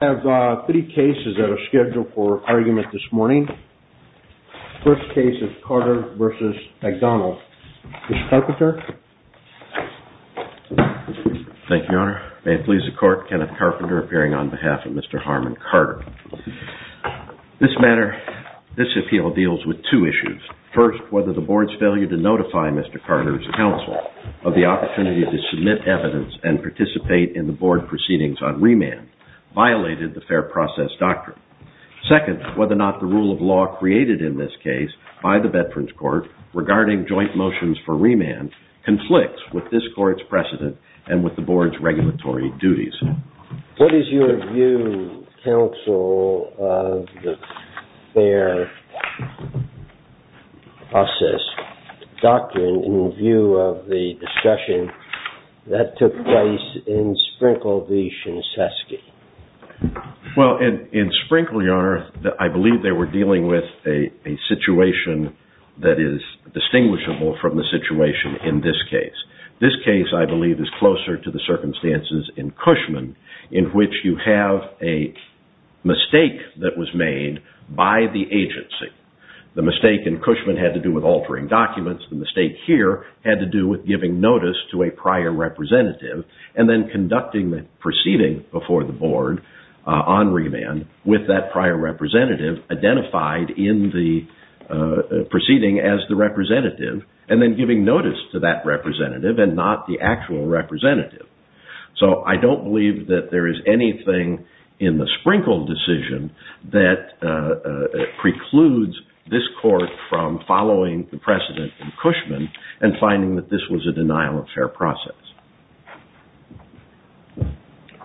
has a three cases that are scheduled for argument this morning. First case is Carter v. McDonald. Mr. Carpenter. Thank you, Your Honor. May it please the Court, Kenneth Carpenter appearing on behalf of Mr. Harmon Carter. This matter, this appeal deals with two issues. First, whether the board's failure to notify Mr. Carter's counsel of the opportunity to submit evidence and participate in the board proceedings on remand violated the fair process doctrine. Second, whether or not the rule of law created in this case by the Veterans Court regarding joint motions for remand conflicts with this court's precedent and with the board's regulatory duties. What is your view, counsel, of the fair process doctrine in view of the discussion that took place in Sprinkle v. Shinsesuke? Well, in Sprinkle, Your Honor, I believe they were dealing with a situation that is distinguishable from the situation in this case. This case, I believe, is closer to the circumstances in Cushman in which you have a mistake that was made by the agency. The mistake in Cushman had to do with altering documents. The mistake here had to do with giving notice to a prior representative and then conducting the proceeding before the board on remand with that prior representative identified in the proceeding as the representative and then giving notice to that representative and not the actual representative. So I don't believe that there is anything in the Sprinkle decision that precludes this court from following the precedent in Cushman and finding that this was a denial of fair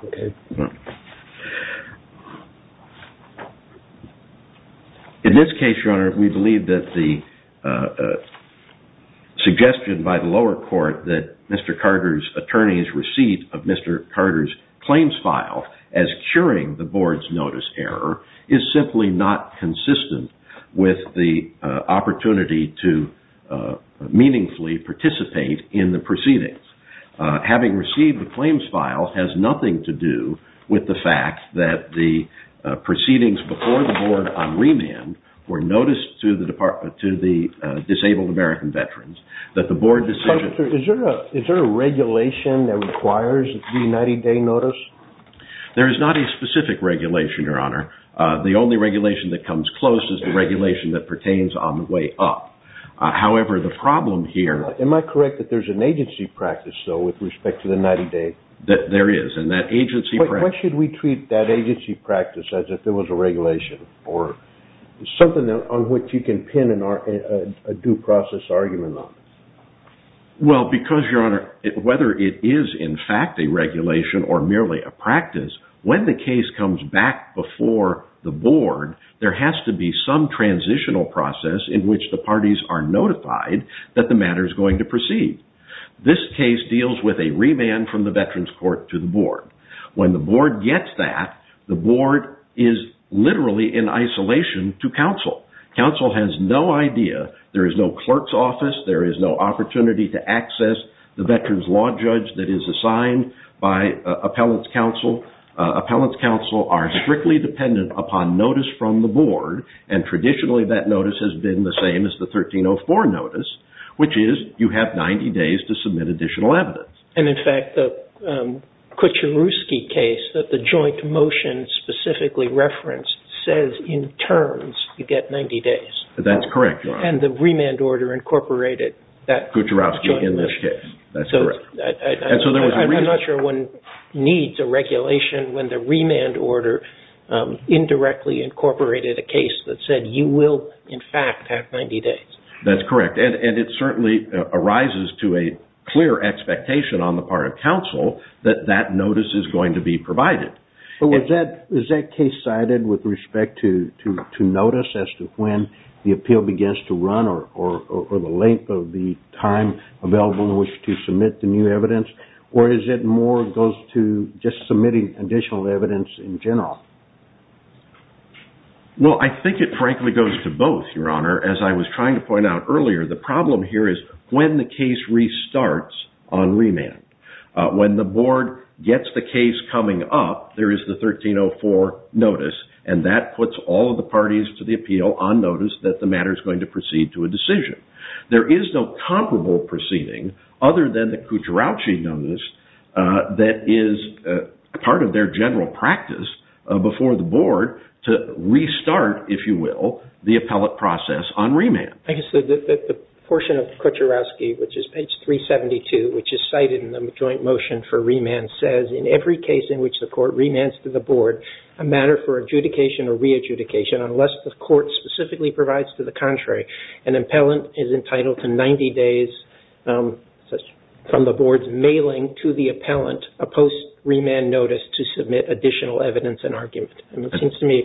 process. In this case, Your Honor, we believe that the receipt of Mr. Carter's claims file as curing the board's notice error is simply not consistent with the opportunity to meaningfully participate in the proceedings. Having received the claims file has nothing to do with the fact that the proceedings before the board on remand were noticed to the requires the 90-day notice? There is not a specific regulation, Your Honor. The only regulation that comes close is the regulation that pertains on the way up. However, the problem here... Am I correct that there is an agency practice, though, with respect to the 90-day? There is. Why should we treat that agency practice as if it was a regulation or something on which you can pin a due process argument on? Well, because, Your Honor, whether it is in fact a regulation or merely a practice, when the case comes back before the board, there has to be some transitional process in which the parties are notified that the matter is going to proceed. This case deals with a remand from the Veterans Court to the board. When the board gets that, the board is literally in isolation to counsel. Counsel has no idea. There is no clerk's office. There is no opportunity to access the veterans law judge that is assigned by appellant's counsel. Appellant's counsel are strictly dependent upon notice from the board, and traditionally that notice has been the same as the 1304 notice, which is you have 90 days to submit additional evidence. And, in fact, the Kucherowski case, that the joint motion specifically referenced, says in terms you get 90 days. That's correct, Your Honor. And the remand order incorporated that. Kucherowski in this case. That's correct. I'm not sure one needs a regulation when the remand order indirectly incorporated a case that said you will, in fact, have 90 days. That's correct, and it certainly arises to a clear expectation on the part of counsel that that notice is going to be provided. Is that case cited with respect to notice as to when the appeal begins to run or the length of the time available in which to submit the new evidence, or is it goes to just submitting additional evidence in general? Well, I think it frankly goes to both, Your Honor. As I was trying to point out earlier, the problem here is when the case restarts on remand. When the board gets the case coming up, there is the 1304 notice, and that puts all of the parties to the appeal on notice that the matter is going to proceed to a decision. There is no comparable proceeding other than the Kucharowski notice that is part of their general practice before the board to restart, if you will, the appellate process on remand. I guess the portion of Kucharowski, which is page 372, which is cited in the joint motion for remand, says in every case in which the court remands to the board a matter for adjudication or re-adjudication, unless the court specifically provides to the contrary, an appellant is entitled to 90 days from the board's mailing to the appellant a post-remand notice to submit additional evidence and argument. It seems to me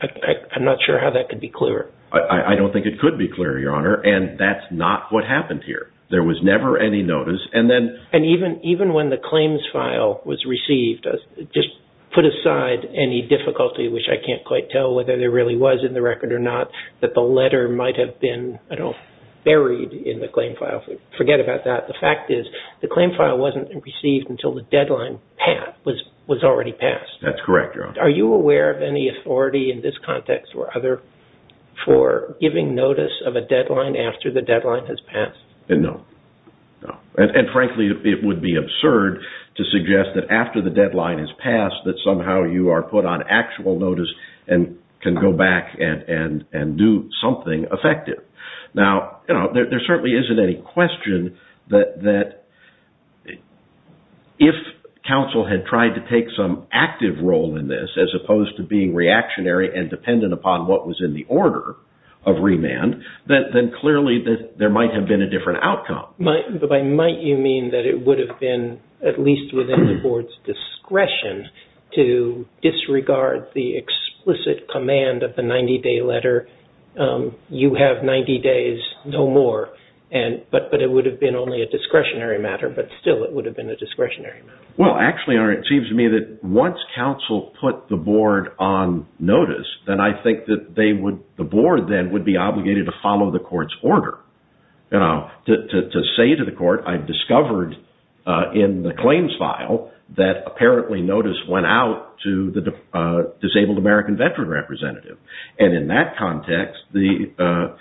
I'm not sure how that could be clearer. I don't think it could be clearer, Your Honor, and that's not what happened here. There was never any notice. And even when the claims file was received, just put aside any difficulty, which I can't quite tell whether there really was in the record or not, that the letter might have been, I don't know, buried in the claim file. Forget about that. The fact is, the claim file wasn't received until the deadline was already passed. That's correct, Your Honor. Are you aware of any authority in this context or other for giving notice of a deadline after the deadline has passed? No. And frankly, it would be absurd to suggest that after the deadline has passed that somehow you are put on actual notice and can go back and do something effective. Now, there certainly isn't any question that if counsel had tried to take some active role in this as opposed to being reactionary and dependent upon what was in the order of remand, then clearly there might have been a different outcome. By might you mean that it would have been at least within the Board's discretion to disregard the explicit command of the 90-day letter, you have 90 days, no more, but it would have been only a discretionary matter, but still it would have been a discretionary matter. Well, actually, Your Honor, it seems to me that once counsel put the Board on notice, then I think the Board then would be obligated to follow the Court's order. To say to the Court, I've discovered in the claims file that apparently notice went out to the disabled American veteran representative. And in that context, the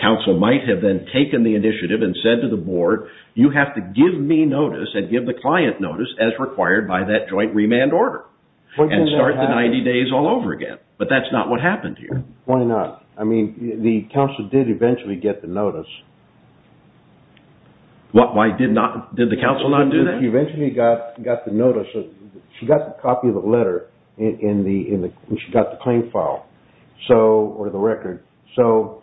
counsel might have then taken the initiative and said to the Board, you have to give me notice and give the client notice as required by that joint remand order and start the 90 days all over again. But that's not what happened here. Why not? I mean, the counsel did eventually get the notice. Why did the counsel not do that? She eventually got the notice. She got the copy of the letter and she got the claim file or the record. So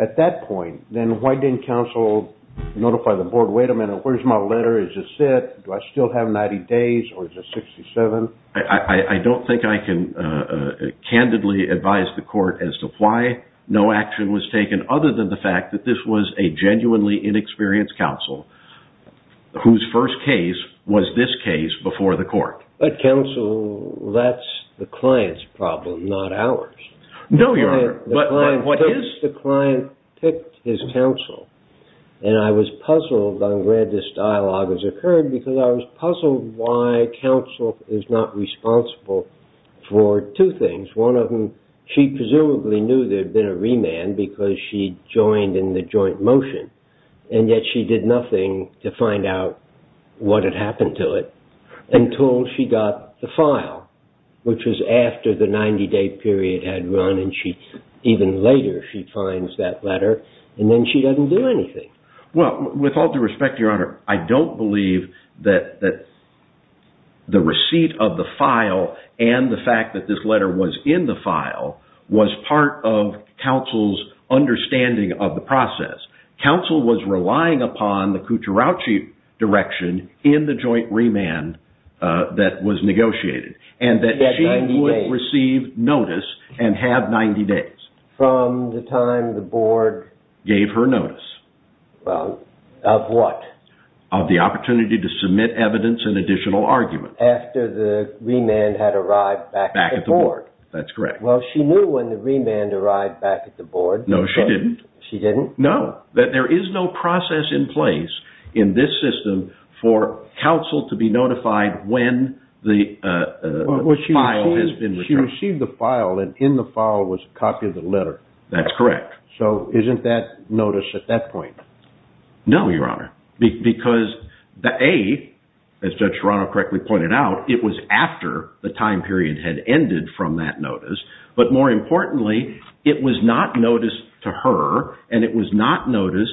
at that point, then why didn't counsel notify the Board, wait a minute, where's my letter? Is it set? Do I still have 90 days or is it 67? I don't think I can candidly advise the Court as to why no action was taken other than the fact that this was a genuinely inexperienced counsel whose first case was this case before the Court. But counsel, that's the client's problem, not ours. No, Your Honor. The client picked his counsel. And I was puzzled on where this dialogue has occurred because I was puzzled why counsel is not responsible for two things. One of them, she presumably knew there had been a remand because she joined in the joint motion and yet she did nothing to find out what had happened to it until she got the file, which was after the 90-day period had run and even later she finds that letter and then she doesn't do anything. Well, with all due respect, Your Honor, I don't believe that the receipt of the file and the fact that this letter was in the file was part of counsel's understanding of the process. Counsel was relying upon the Cucarachi direction in the joint remand that was at the time the Board gave her notice. Of what? Of the opportunity to submit evidence and additional argument. After the remand had arrived back at the Board. That's correct. Well, she knew when the remand arrived back at the Board. No, she didn't. There is no process in place in this system for counsel to be notified when the file has been retrieved. She received the file and in the file was a copy of the letter. That's correct. So isn't that notice at that point? No, Your Honor. Because A, as Judge Serrano correctly pointed out, it was after the time period had ended from that notice, but more importantly, it was not noticed to her and it was not evidence.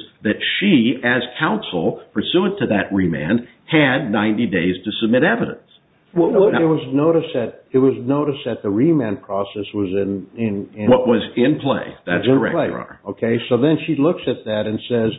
It was noticed that the remand process was in play. That's correct, Your Honor. So then she looks at that and says,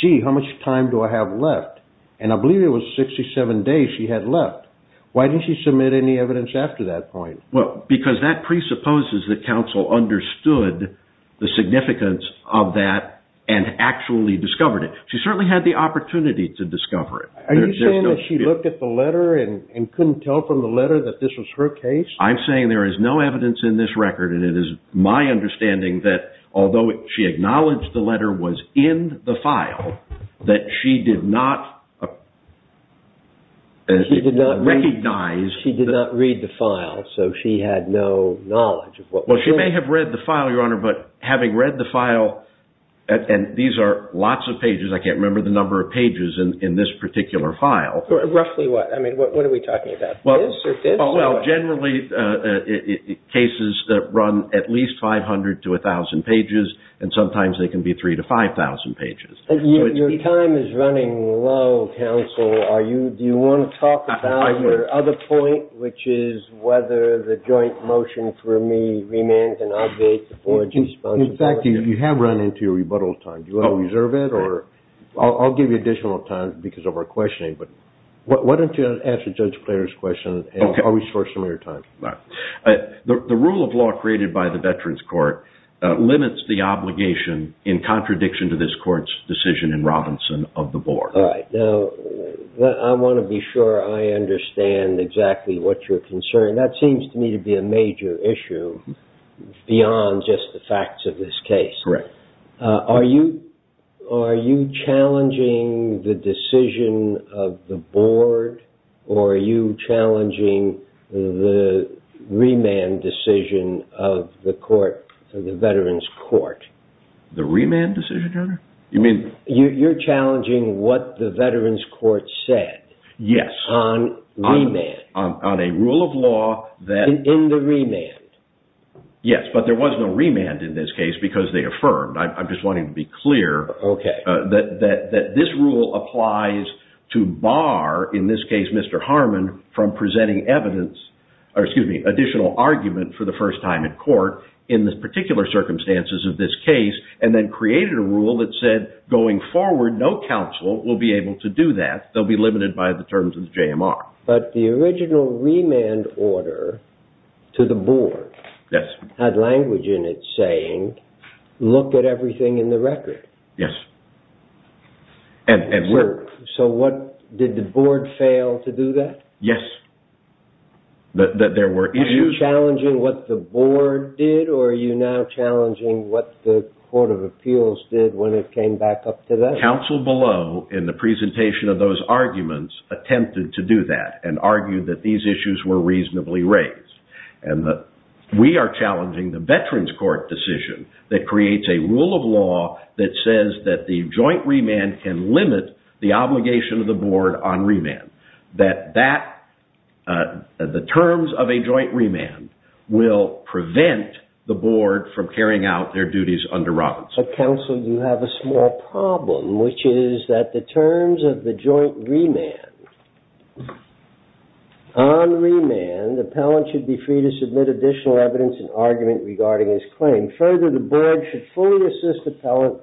gee, how much time do I have left? And I believe it was 67 days she had left. Why didn't she submit any evidence after that point? Because that presupposes that counsel understood the significance of that and actually discovered it. She certainly had the opportunity to discover it. Are you saying that she looked at the letter and couldn't tell from the letter that this was her case? I'm saying there is no evidence in this record and it is my understanding that although she acknowledged the letter was in the file, that she did not recognize She did not read the file, so she had no knowledge of what was in it. Well, she may have read the file, Your Honor, but having read the file, and these are lots of pages, I can't remember the number of pages in this particular file. Roughly what? I mean, what are we talking about? This or this? Well, generally cases that run at least 500 to 1,000 pages and sometimes they can be 3,000 to 5,000 pages. Your time is running low, counsel. Do you want to talk about your other point, which is whether the joint motion for me In fact, you have run into your rebuttal time. Do you want to reserve it? I'll give you additional time because of our questioning, but why don't you answer Judge Clare's question and I'll restore some of your time. The rule of law created by the Veterans Court limits the obligation in contradiction to this court's decision in Robinson of the Board. I want to be sure I understand exactly what you're concerned. That seems to me to be a major issue beyond just the facts of this case. Are you challenging the decision of the Board or are you challenging the remand decision of the Veterans Court? The remand decision, Your Honor? You're challenging what the Veterans Court said. Yes. On remand. On a rule of law. In the remand. Yes, but there was no remand in this case because they affirmed. I'm just wanting to be clear that this rule applies to bar, in this case, Mr. Harmon, from presenting additional argument for the first time in court in the particular circumstances of this case, and then created a rule that said going forward, no counsel will be able to do that. They'll be limited by the terms of the JMR. But the original remand order to the Board had language in it saying, look at everything in the record. Yes. So did the Board fail to do that? Yes. That there were issues. Are you challenging what the Board did or are you now challenging what the Court of Appeals did when it came back up to that? Counsel below, in the presentation of those arguments, attempted to do that and argued that these issues were reasonably raised. We are challenging the Veterans Court decision that creates a rule of law that says that the joint remand can limit the obligation of the Board on remand. That the terms of a joint remand will prevent the Board from carrying out their duties under Robinson. But, counsel, you have a small problem, which is that the terms of the joint remand, on remand, the appellant should be free to submit additional evidence and argument regarding his claim. Further, the Board should fully assist the appellant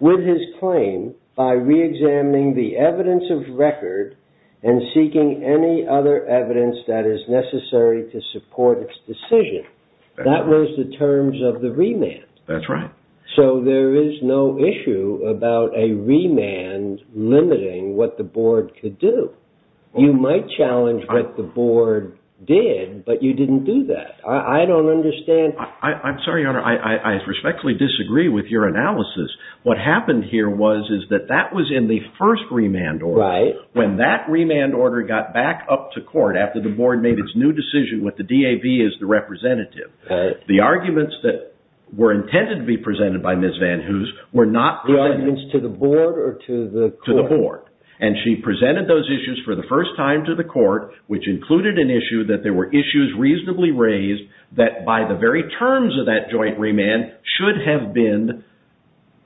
with his claim by reexamining the evidence of record and seeking any other evidence that is necessary to support its decision. That was the terms of the remand. That's right. So there is no issue about a remand limiting what the Board could do. You might challenge what the Board did, but you didn't do that. I don't understand. I'm sorry, Your Honor, I respectfully disagree with your analysis. What happened here was that that was in the first remand order. Right. When that remand order got back up to court after the Board made its new decision with the DAV as the representative, the arguments that were intended to be presented by Ms. Van Hoos were not presented. The arguments to the Board or to the court, which included an issue that there were issues reasonably raised that by the very terms of that joint remand should have been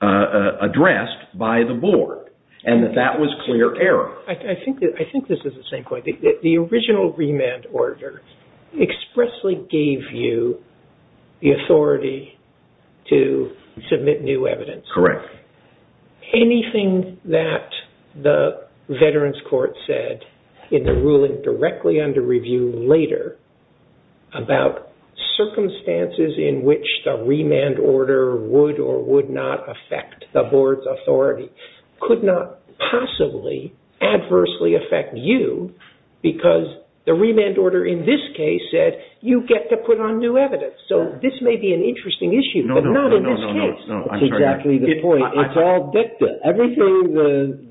addressed by the Board, and that that was clear error. I think this is the same point. The original remand order expressly gave you the authority to submit new evidence. Correct. Anything that the Veterans Court said in the ruling directly under review later about circumstances in which the remand order would or would not affect the Board's authority could not possibly adversely affect you because the remand order in this case said you get to put on new evidence. So this may be an interesting issue, but not in this case. It's all dicta. Everything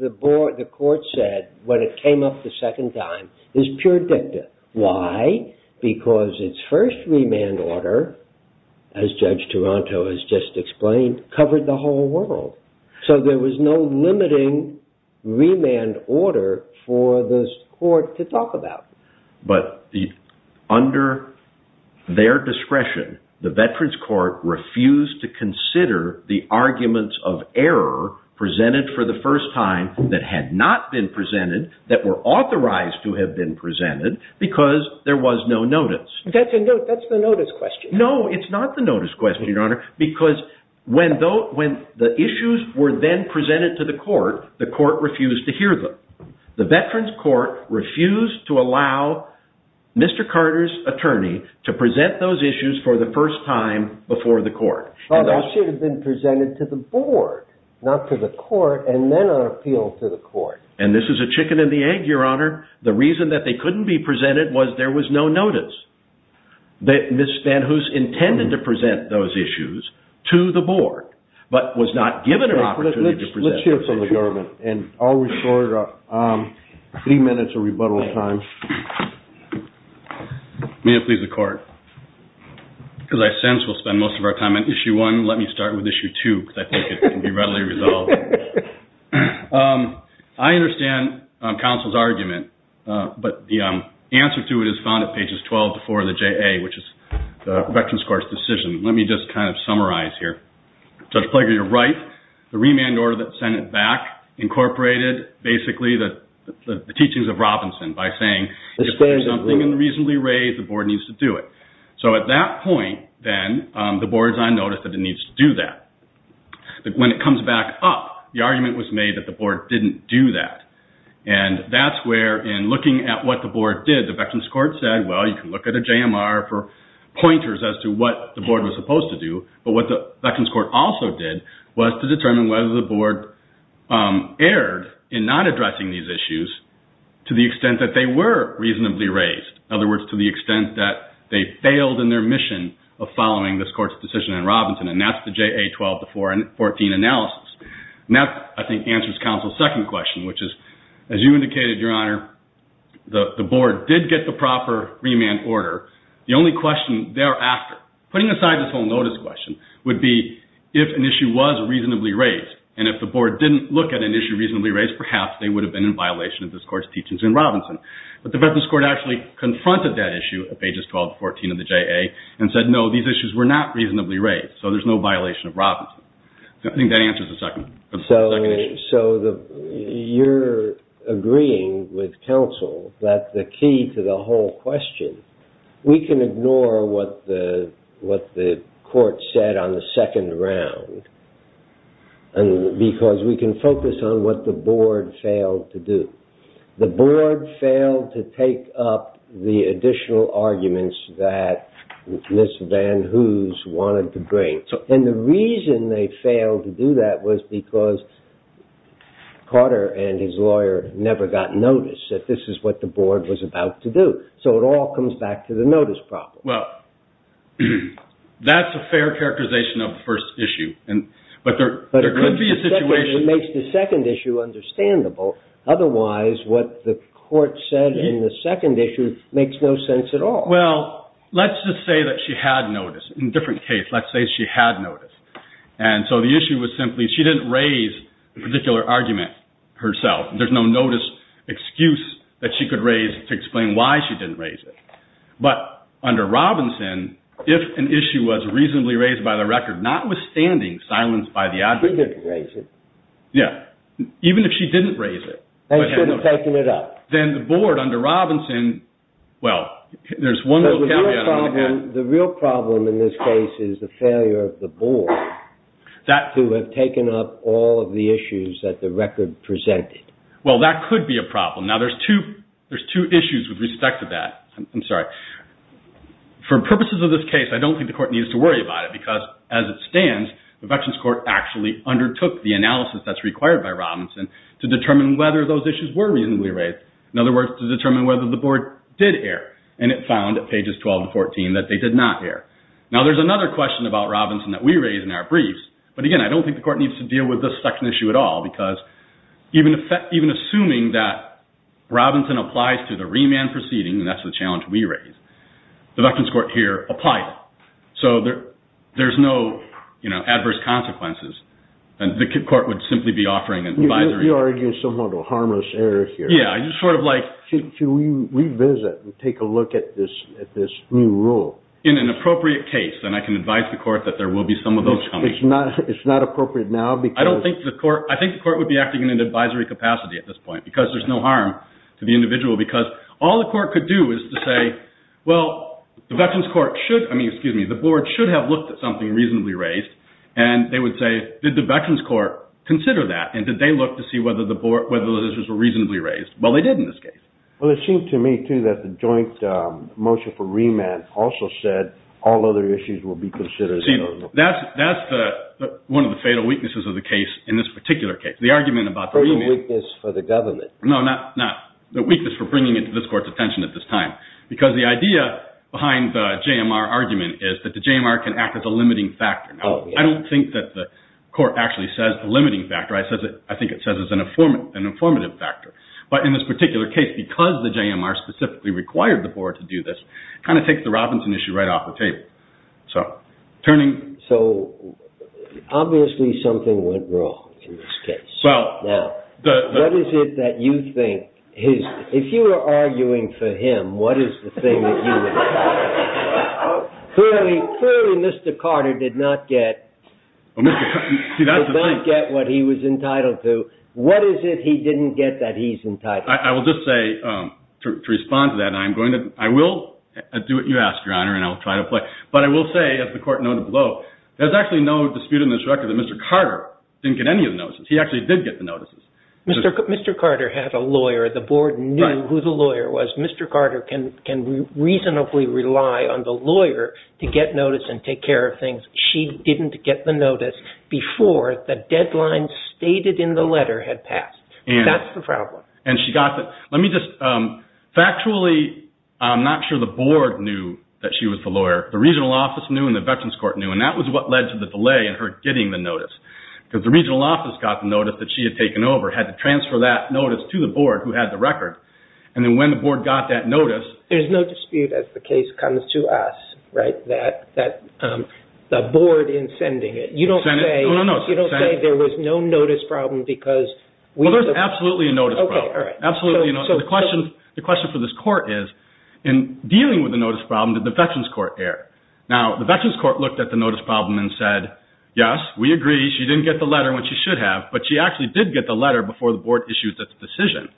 the Court said when it came up the second time is pure dicta. Why? Because its first remand order, as Judge Toronto has just explained, covered the whole world. So there was no limiting remand order for the Court to talk about. Under their discretion, the Veterans Court refused to consider the arguments of error presented for the first time that had not been presented that were authorized to have been presented because there was no notice. That's the notice question. No, it's not the notice question, Your Honor, because when the issues were then presented to the Court, the Court refused to hear them. The Veterans Court refused to allow Mr. Carter's attorney to present those issues for the first time before the Court. They should have been presented to the Board, not to the Court, and then appealed to the Court. And this is a chicken and the egg, Your Honor. The reason that they couldn't be presented was there was no notice. Ms. Van Hoos intended to present those issues to the Board, but was not given an opportunity to present them. Let's hear from the government, and I'll restore three minutes of rebuttal time. May it please the Court, because I sense we'll spend most of our time on I understand counsel's argument, but the answer to it is found at pages 12-4 of the JA, which is the Veterans Court's decision. Let me just kind of summarize here. Judge Plager, you're right. The remand order that sent it back incorporated basically the teachings of Robinson by saying if there is something unreasonably raised, the Board needs to do it. So at that point, then, the Board is on notice that it needs to do that. But when it comes back up, the argument was made that the Board didn't do that. And that's where, in looking at what the Board did, the Veterans Court said, well, you can look at a JMR for pointers as to what the Board was supposed to do. But what the Veterans Court also did was to determine whether the Board erred in not addressing these issues to the extent that they were and that's the JA 12-14 analysis. And that, I think, answers counsel's second question, which is, as you indicated, Your Honor, the Board did get the proper remand order. The only question thereafter, putting aside this whole notice question, would be if an issue was reasonably raised. And if the Board didn't look at an issue reasonably raised, perhaps they would have been in violation of this Court's teachings in Robinson. But the Veterans Court actually confronted that issue at pages 12-14 of the JA and said, no, these issues were not reasonably raised, so there's no violation of Robinson. I think that answers the second issue. So you're agreeing with counsel that the key to the whole question, we can ignore what the Court said on the second round because we can focus on what the Board failed to do. The Board failed to take up the additional arguments that Ms. Van Hoos wanted to bring. And the reason they failed to do that was because Carter and his lawyer never got notice that this is what the Board was about to do. So it all comes back to the notice problem. Well, that's a fair characterization of the first issue. But it makes the second issue understandable. Otherwise, what the Court said in the second issue makes no sense at all. Well, let's just say that she had notice. In a different case, let's say she had notice. And so the issue was simply she didn't raise the particular argument herself. There's no notice excuse that she could raise to explain why she didn't raise it. But under Robinson, if an issue was reasonably raised by the record, notwithstanding silence by the objector, even if she didn't raise it, then the Board under Robinson, well, there's one little caveat. The real problem in this case is the failure of the Board to have taken up all of the issues that the record presented. Well, that could be a problem. Now, there's two issues with respect to that. For purposes of this case, I don't think the Court needs to worry about it, because as it stands, the Veterans Court actually undertook the analysis that's required by Robinson to determine whether those issues were reasonably raised. In other words, to determine whether the Board did err. And it found, at pages 12 to 14, that they did not err. Now, there's another question about Robinson that we raise in our briefs. But again, I don't think the Court needs to deal with this second issue at all, because even assuming that Robinson applies to the remand proceeding, and that's the challenge we raise, the Veterans Court here applies it. So there's no adverse consequences. And the Court would simply be offering an advisory. You're arguing somewhat of a harmless error here. Should we revisit and take a look at this new rule? In an appropriate case, then I can advise the Court that there will be some of those coming. It's not appropriate now, because... I think the Court would be acting in an advisory capacity at this point, because there's no harm to the individual, because all the Court could do is to say, well, the Veterans Court should... I mean, excuse me, the Board should have looked at something reasonably raised. And they would say, did the Veterans Court consider that, and did they look to see whether those issues were reasonably raised? Well, they did in this case. Well, it seemed to me, too, that the joint motion for remand also said all other issues will be considered... See, that's one of the fatal weaknesses of the case in this particular case. The argument about the remand... Fatal weakness for the government. No, not the weakness for bringing it to this Court's attention at this time, because the idea behind the JMR argument is that the JMR can act as a limiting factor. I don't think that the Court actually says the limiting factor. I think it says it's an informative factor. But in this particular case, because the JMR specifically required the Board to do this, it kind of takes the Robinson issue right off the table. So, turning... So, obviously something went wrong in this case. Now, what is it that you think... If you were arguing for him, what is the thing that you would... Clearly, Mr. Carter did not get what he was entitled to. What is it he didn't get that he's entitled to? I will just say, to respond to that, and I will do what you ask, Your Honor, and I will try to play. But I will say, as the Court noted below, there's actually no dispute in this record that Mr. Carter didn't get any of the notices. He actually did get the notices. Mr. Carter had a lawyer. The Board knew who the lawyer was. Mr. Carter can reasonably rely on the lawyer to get notice and take care of things. She didn't get the notice before the deadline stated in the letter had passed. That's the problem. And she got the... Let me just... Factually, I'm not sure the Board knew that she was the lawyer. The Regional Office knew, and the Veterans Court knew. And that was what led to the delay in her getting the notice. Because the Regional Office got the notice that she had taken over, had to transfer that notice to the Board who had the record. And then when the Board got that notice... There's no dispute as the case comes to us, right, that the Board in sending it... You don't say... No, no, no. You don't say there was no notice problem because... Well, there's absolutely a notice problem. Okay, all right. Absolutely a notice problem. The question for this Court is, in dealing with the notice problem, did the Veterans Court err? Now, the Veterans Court looked at the notice problem and said, yes, we agree she didn't get the letter when she should have, but she actually did get the letter before the Board issued its decision.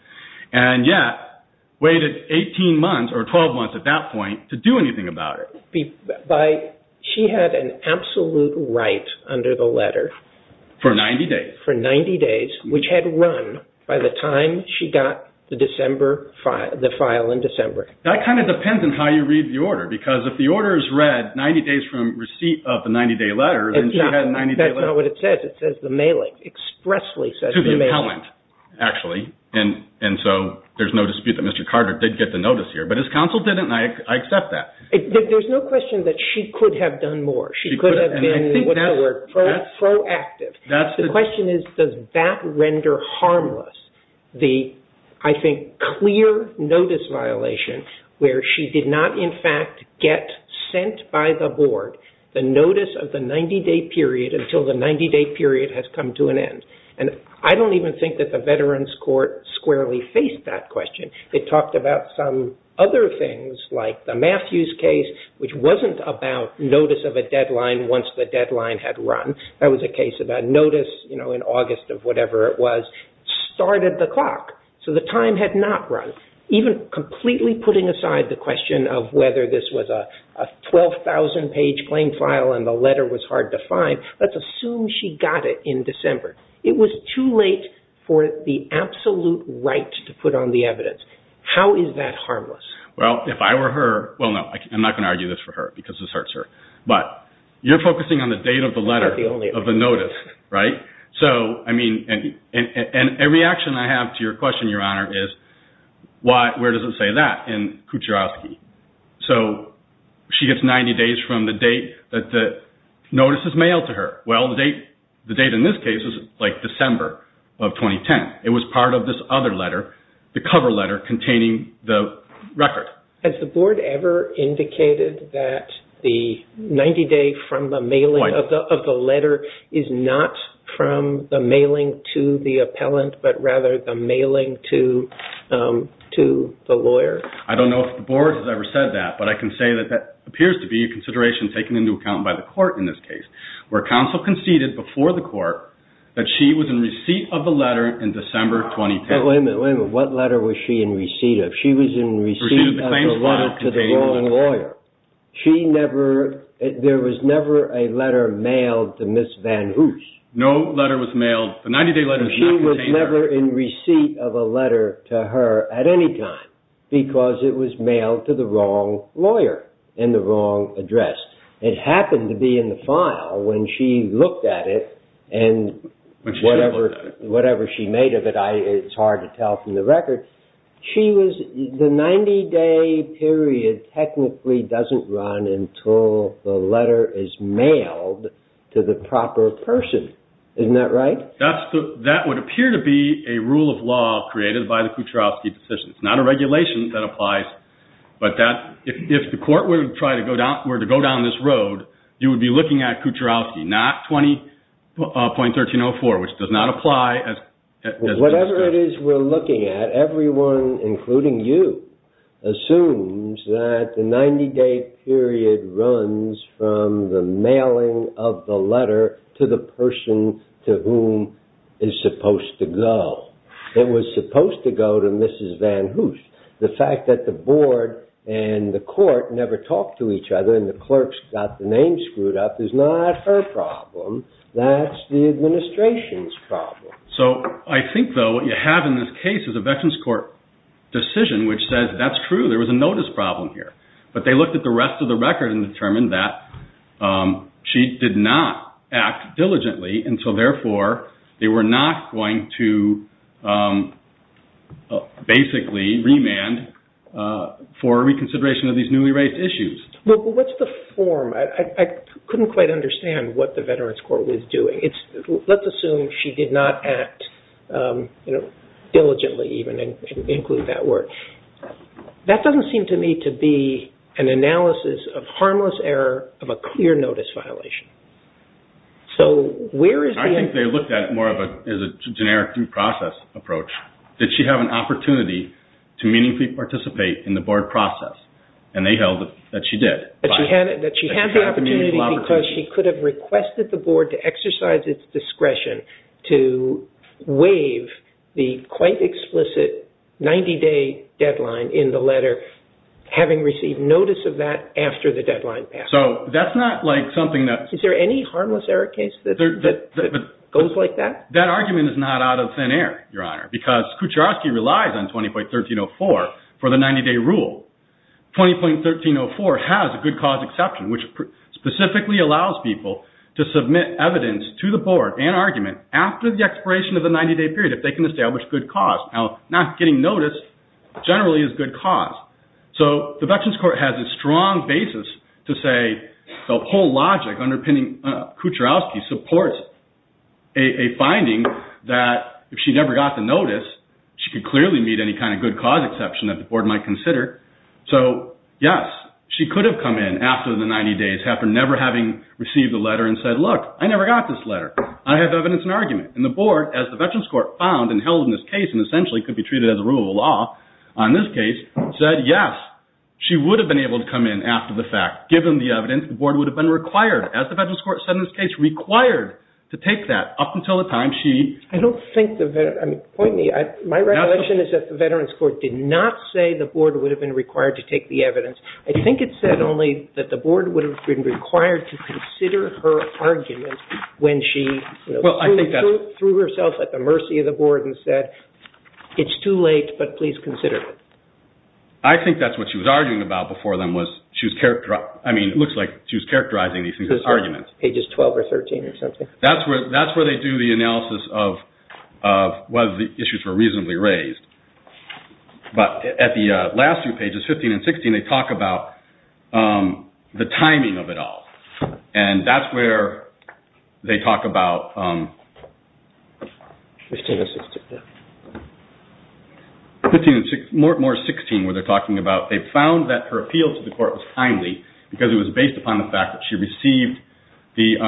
And yet, waited 18 months or 12 months at that point to do anything about it. She had an absolute right under the letter... For 90 days. For 90 days, which had run by the time she got the file in December. That kind of depends on how you read the order, because if the order is read 90 days from receipt of the 90-day letter, then she had a 90-day letter... That's not what it says. It says the mailing, expressly says the mailing. To the appellant, actually. And so there's no dispute that Mr. Carter did get the notice here, but his counsel didn't, and I accept that. There's no question that she could have done more. She could have been, what's the word, proactive. The question is, does that render harmless the, I think, clear notice violation where she did not, in fact, get sent by the Board the notice of the 90-day period until the 90-day period has come to an end? And I don't even think that the Veterans Court squarely faced that question. It talked about some other things, like the Matthews case, which wasn't about notice of a deadline once the deadline had run. That was a case about notice in August of whatever it was started the clock. So the time had not run. Even completely putting aside the question of whether this was a 12,000-page plain file and the letter was hard to find, let's assume she got it in December. It was too late for the absolute right to put on the evidence. How is that harmless? Well, if I were her, well, no, I'm not going to argue this for her because this hurts her, but you're focusing on the date of the letter of the notice, right? And a reaction I have to your question, Your Honor, is where does it say that in Kucherovsky? So she gets 90 days from the date that the notice is mailed to her. Well, the date in this case is like December of 2010. It was part of this other letter, the cover letter containing the record. Has the Board ever indicated that the 90-day from the mailing of the letter is not from the mailing to the appellant but rather the mailing to the lawyer? I don't know if the Board has ever said that, but I can say that that appears to be a consideration taken into account by the court in this case where counsel conceded before the court that she was in receipt of the letter in December 2010. Wait a minute, wait a minute. What letter was she in receipt of? She was in receipt of the letter to the lawyer. There was never a letter mailed to Miss Van Hoose. No letter was mailed. The 90-day letter was not contained there. She was never in receipt of a letter to her at any time because it was mailed to the wrong lawyer in the wrong address. It happened to be in the file when she looked at it and whatever she made of it, it's hard to tell from the record. The 90-day period technically doesn't run until the letter is mailed to the proper person. Isn't that right? That would appear to be a rule of law created by the Kucharowski decision. It's not a regulation that applies, but if the court were to go down this road, you would be looking at Kucharowski, not 20.1304, which does not apply. Whatever it is we're looking at, everyone, including you, assumes that the 90-day period runs from the mailing of the letter to the person to whom it's supposed to go. It was supposed to go to Mrs. Van Hoose. The fact that the board and the court never talked to each other and the clerks got the name screwed up is not her problem. That's the administration's problem. I think, though, what you have in this case is a Veterans Court decision which says that's true, there was a notice problem here. But they looked at the rest of the record and determined that she did not act diligently and so therefore they were not going to basically remand for reconsideration of these newly raised issues. What's the form? I couldn't quite understand what the Veterans Court was doing. Let's assume she did not act diligently even and include that word. That doesn't seem to me to be an analysis of harmless error of a clear notice violation. I think they looked at it more as a generic due process approach. Did she have an opportunity to meaningfully participate in the board process? And they held that she did. That she had the opportunity because she could have requested the board to exercise its discretion to waive the quite explicit 90-day deadline in the letter having received notice of that after the deadline passed. Is there any harmless error case that goes like that? That argument is not out of thin air, Your Honor, because Kucheroski relies on 20.1304 for the 90-day rule. 20.1304 has a good cause exception which specifically allows people to submit evidence to the board and argument after the expiration of the 90-day period if they can establish good cause. Now, not getting notice generally is good cause. So the Veterans Court has a strong basis to say the whole logic underpinning Kucheroski supports a finding that if she never got the notice, she could clearly meet any kind of good cause exception that the board might consider. So, yes, she could have come in after the 90 days, after never having received a letter and said, look, I never got this letter. I have evidence and argument. And the board, as the Veterans Court found and held in this case and essentially could be treated as a rule of law on this case, said, yes, she would have been able to come in after the fact given the evidence. The board would have been required, as the Veterans Court said in this case, required to take that up until the time she… My recollection is that the Veterans Court did not say the board would have been required to take the evidence. I think it said only that the board would have been required to consider her argument when she threw herself at the mercy of the board and said, it's too late, but please consider it. I think that's what she was arguing about before then. I mean, it looks like she was characterizing these things as arguments. Pages 12 or 13 or something. That's where they do the analysis of whether the issues were reasonably raised. But at the last few pages, 15 and 16, they talk about the timing of it all. And that's where they talk about… More 16 where they're talking about they found that her appeal to the court was timely because it was based upon the fact that she received the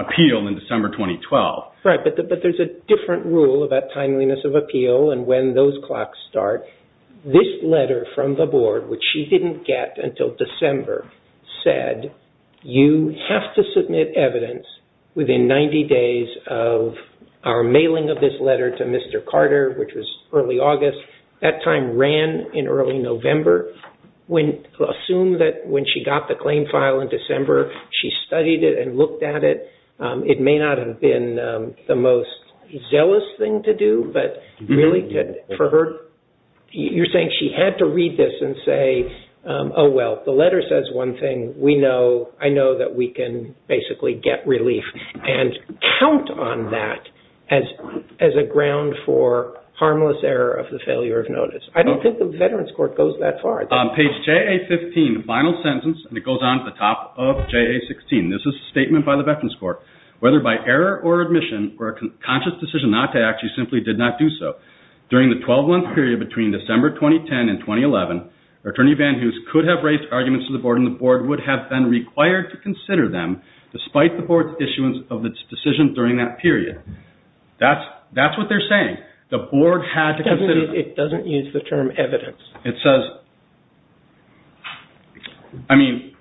appeal in December 2012. Right, but there's a different rule about timeliness of appeal and when those clocks start. This letter from the board, which she didn't get until December, said you have to submit evidence within 90 days of our mailing of this letter to Mr. Carter, which was early August. That time ran in early November. Assume that when she got the claim file in December, she studied it and looked at it. It may not have been the most zealous thing to do, but really for her, you're saying she had to read this and say, oh, well, the letter says one thing. I know that we can basically get relief and count on that as a ground for harmless error of the failure of notice. I don't think the Veterans Court goes that far. Page JA-15, final sentence, and it goes on to the top of JA-16. This is a statement by the Veterans Court. Whether by error or admission or a conscious decision not to act, she simply did not do so. During the 12-month period between December 2010 and 2011, Attorney Van Hoose could have raised arguments to the board and the board would have been required to consider them despite the board's issuance of its decision during that period. That's what they're saying. It doesn't use the term evidence. It says... I mean,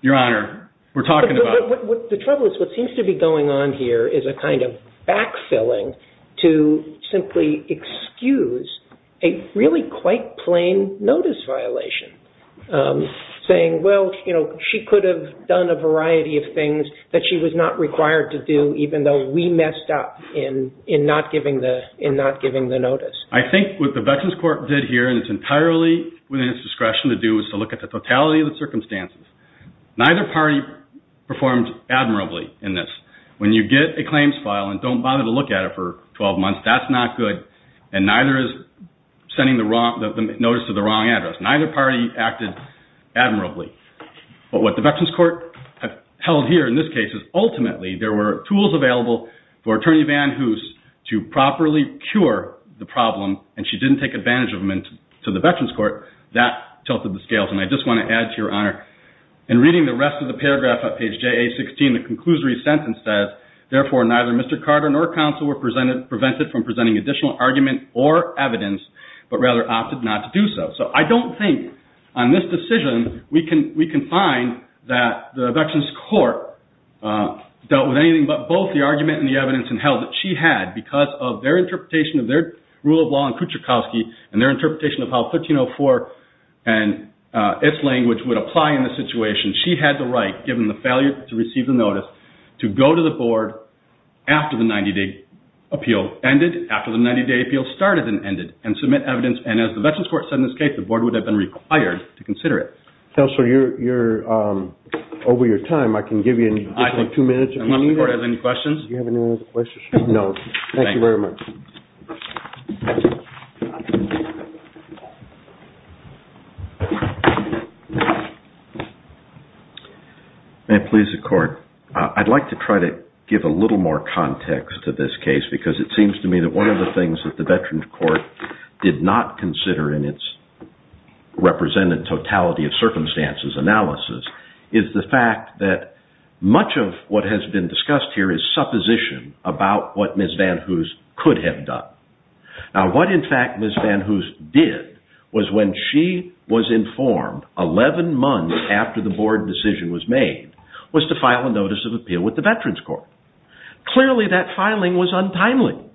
Your Honor, we're talking about... The trouble is what seems to be going on here is a kind of backfilling to simply excuse a really quite plain notice violation, saying, well, she could have done a variety of things that she was not required to do even though we messed up in not giving the notice. I think what the Veterans Court did here, and it's entirely within its discretion to do, is to look at the totality of the circumstances. Neither party performed admirably in this. When you get a claims file and don't bother to look at it for 12 months, that's not good, and neither is sending the notice to the wrong address. Neither party acted admirably. But what the Veterans Court held here in this case is ultimately there were tools available for Attorney Van Hoose to properly cure the problem, and she didn't take advantage of them to the Veterans Court. That tilted the scales, and I just want to add to Your Honor, in reading the rest of the paragraph on page JA-16, the conclusory sentence says, therefore neither Mr. Carter nor counsel were prevented from presenting additional argument or evidence but rather opted not to do so. So I don't think on this decision we can find that the Veterans Court dealt with anything but both the argument and the evidence in hell that she had because of their interpretation of their rule of law in Kuchakowski and their interpretation of how 1304 and its language would apply in this situation. She had the right, given the failure to receive the notice, to go to the board after the 90-day appeal ended, after the 90-day appeal started and ended, and submit evidence, and as the Veterans Court said in this case, the board would have been required to consider it. Counselor, you're over your time. I can give you two minutes if you need it. Unless the court has any questions. Do you have any other questions? No. Thank you very much. May it please the court. I'd like to try to give a little more context to this case because it seems to me that one of the things that the Veterans Court did not consider in its represented totality of circumstances analysis is the fact that much of what has been discussed here is supposition about what Ms. Van Hoos could have done. Now what in fact Ms. Van Hoos did was when she was informed 11 months after the board decision was made was to file a notice of appeal with the Veterans Court. Clearly that filing was untimely.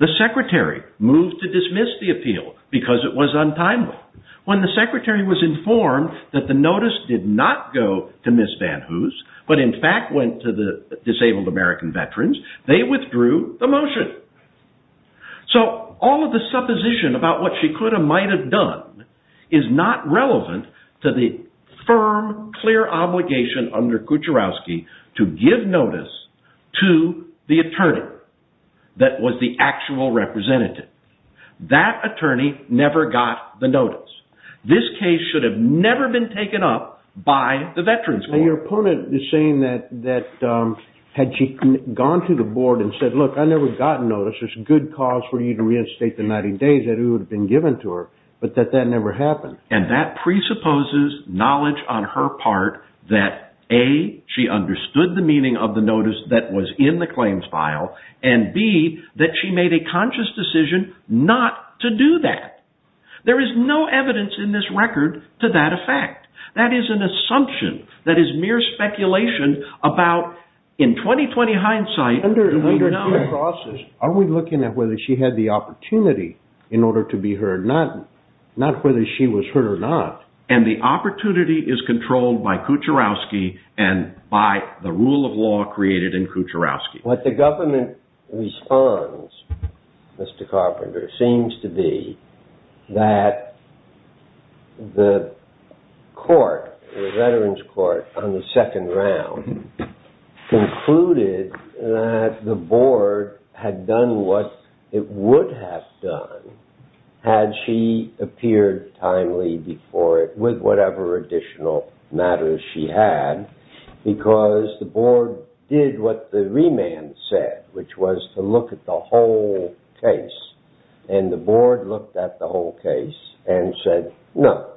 The secretary moved to dismiss the appeal because it was untimely. When the secretary was informed that the notice did not go to Ms. Van Hoos but in fact went to the disabled American veterans, they withdrew the motion. So all of the supposition about what she could have, might have done is not relevant to the firm, clear obligation under Kucherowski to give notice to the attorney that was the actual representative. That attorney never got the notice. This case should have never been taken up by the Veterans Court. Your opponent is saying that had she gone to the board and said look I never got notice, there's a good cause for you to reinstate the 90 days that it would have been given to her, but that that never happened. And that presupposes knowledge on her part that A, she understood the meaning of the notice that was in the claims file and B, that she made a conscious decision not to do that. There is no evidence in this record to that effect. That is an assumption, that is mere speculation about in 20-20 hindsight, the undeniable process. Are we looking at whether she had the opportunity in order to be heard not whether she was heard or not. And the opportunity is controlled by Kucherowski and by the rule of law created in Kucherowski. What the government responds, Mr. Carpenter, seems to be that the court, the Veterans Court on the second round concluded that the board had done what it would have done had she appeared timely with whatever additional matters she had because the board did what the remand said which was to look at the whole case. And the board looked at the whole case and said no.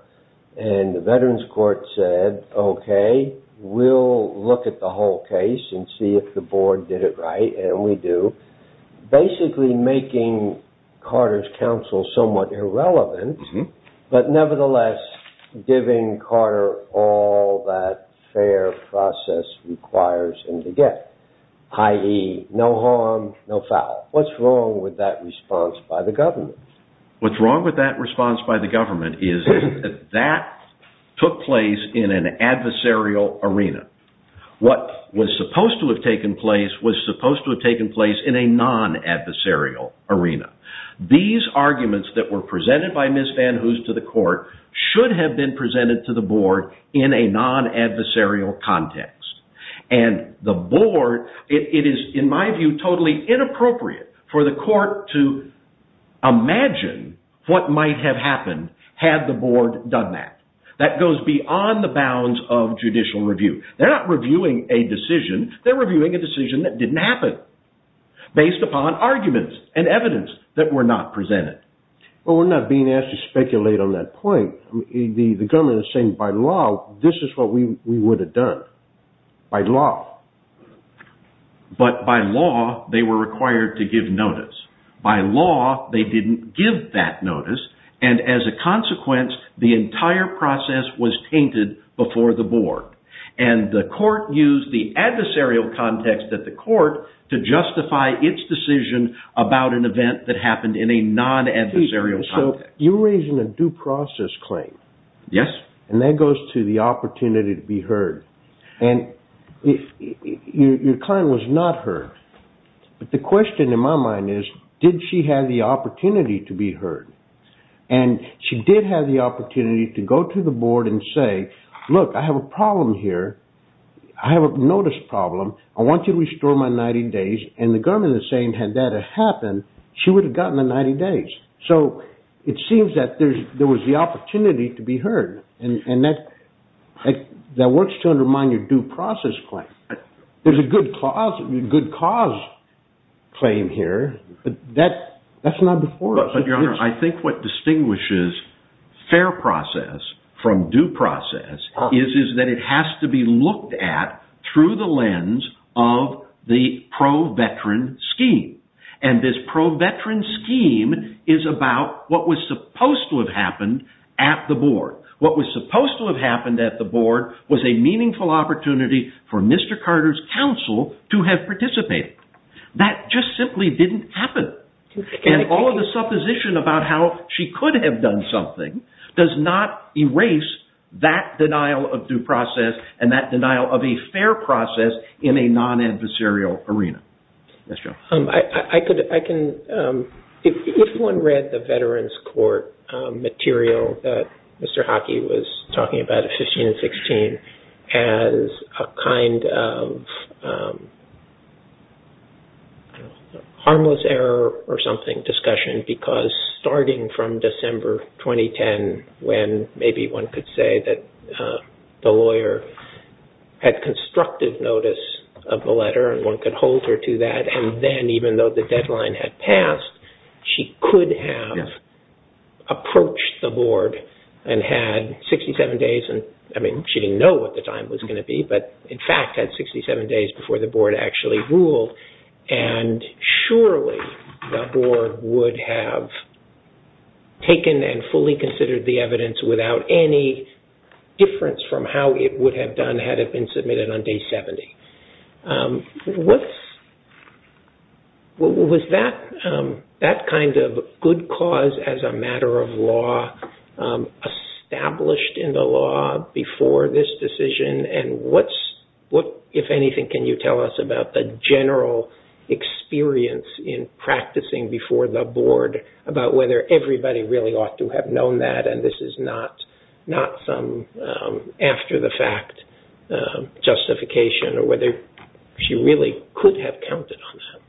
And the Veterans Court said okay, we'll look at the whole case and see if the board did it right, and we do. Basically making Carter's counsel somewhat irrelevant but nevertheless giving Carter all that fair process requires him to get i.e. no harm, no foul. What's wrong with that response by the government? What's wrong with that response by the government is that that took place in an adversarial arena. What was supposed to have taken place was supposed to have taken place in a non-adversarial arena. These arguments that were presented by Ms. Van Hoos to the court should have been presented to the board in a non-adversarial context. And the board, it is in my view totally inappropriate for the court to imagine what might have happened had the board done that. That goes beyond the bounds of judicial review. They're not reviewing a decision. They're reviewing a decision that didn't happen based upon arguments and evidence that were not presented. But we're not being asked to speculate on that point. The government is saying by law this is what we would have done. By law. But by law they were required to give notice. By law they didn't give that notice and as a consequence the entire process was tainted before the board. And the court used the adversarial context at the court to justify its decision about an event that happened in a non-adversarial context. So you're raising a due process claim. Yes. And that goes to the opportunity to be heard. And your claim was not heard. But the question in my mind is did she have the opportunity to be heard? And she did have the opportunity to go to the board and say, look, I have a problem here. I have a notice problem. I want you to restore my 90 days. And the government is saying had that happened she would have gotten the 90 days. So it seems that there was the opportunity to be heard. And that works to undermine your due process claim. There's a good cause claim here. But that's not before us. Your Honor, I think what distinguishes fair process from due process is that it has to be looked at through the lens of the pro-veteran scheme. And this pro-veteran scheme is about what was supposed to have happened at the board. What was supposed to have happened at the board was a meaningful opportunity for Mr. Carter's counsel to have participated. That just simply didn't happen. And all of the supposition about how she could have done something does not erase that denial of due process and that denial of a fair process in a non-adversarial arena. Yes, Joe. I could, I can, if one read the Veterans Court material that Mr. Hockey was talking about, 15 and 16, as a kind of harmless error or something discussion. Because starting from December 2010, when maybe one could say that the lawyer had constructed notice of the letter and one could hold her to that. And then even though the deadline had passed, she could have approached the board and had 67 days. I mean, she didn't know what the time was going to be, but in fact had 67 days before the board actually ruled. And surely the board would have taken and fully considered the evidence without any difference from how it would have done had it been submitted on day 70. Was that kind of good cause as a matter of law established in the law before this decision? And what, if anything, can you tell us about the general experience in practicing before the board about whether everybody really ought to have known that and this is not some after-the-fact justification or whether she really could have counted on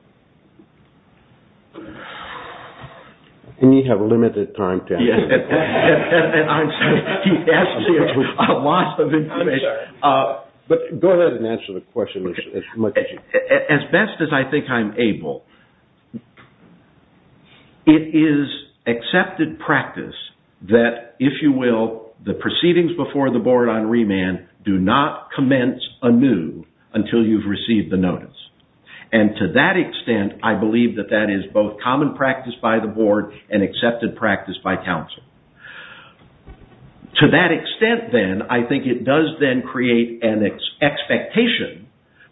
that? And you have limited time, Tim. Yes, and I'm sorry. You've asked me a lot of information. I'm sorry. But go ahead and answer the question as much as you can. As best as I think I'm able. It is accepted practice that, if you will, the proceedings before the board on remand do not commence anew until you've received the notice. And to that extent, I believe that that is both common practice by the board and accepted practice by counsel. To that extent, then, I think it does then create an expectation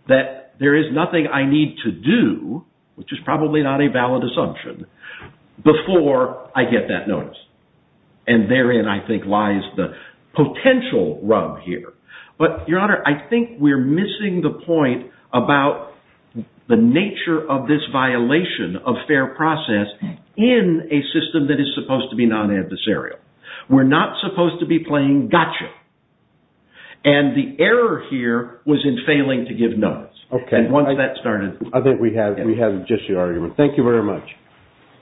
that there is nothing I need to do, which is probably not a valid assumption, before I get that notice. And therein, I think, lies the potential rub here. But, Your Honor, I think we're missing the point about the nature of this violation of fair process in a system that is supposed to be non-adversarial. We're not supposed to be playing gotcha. And the error here was in failing to give notice. Okay. And once that started... I think we have just your argument. Thank you very much.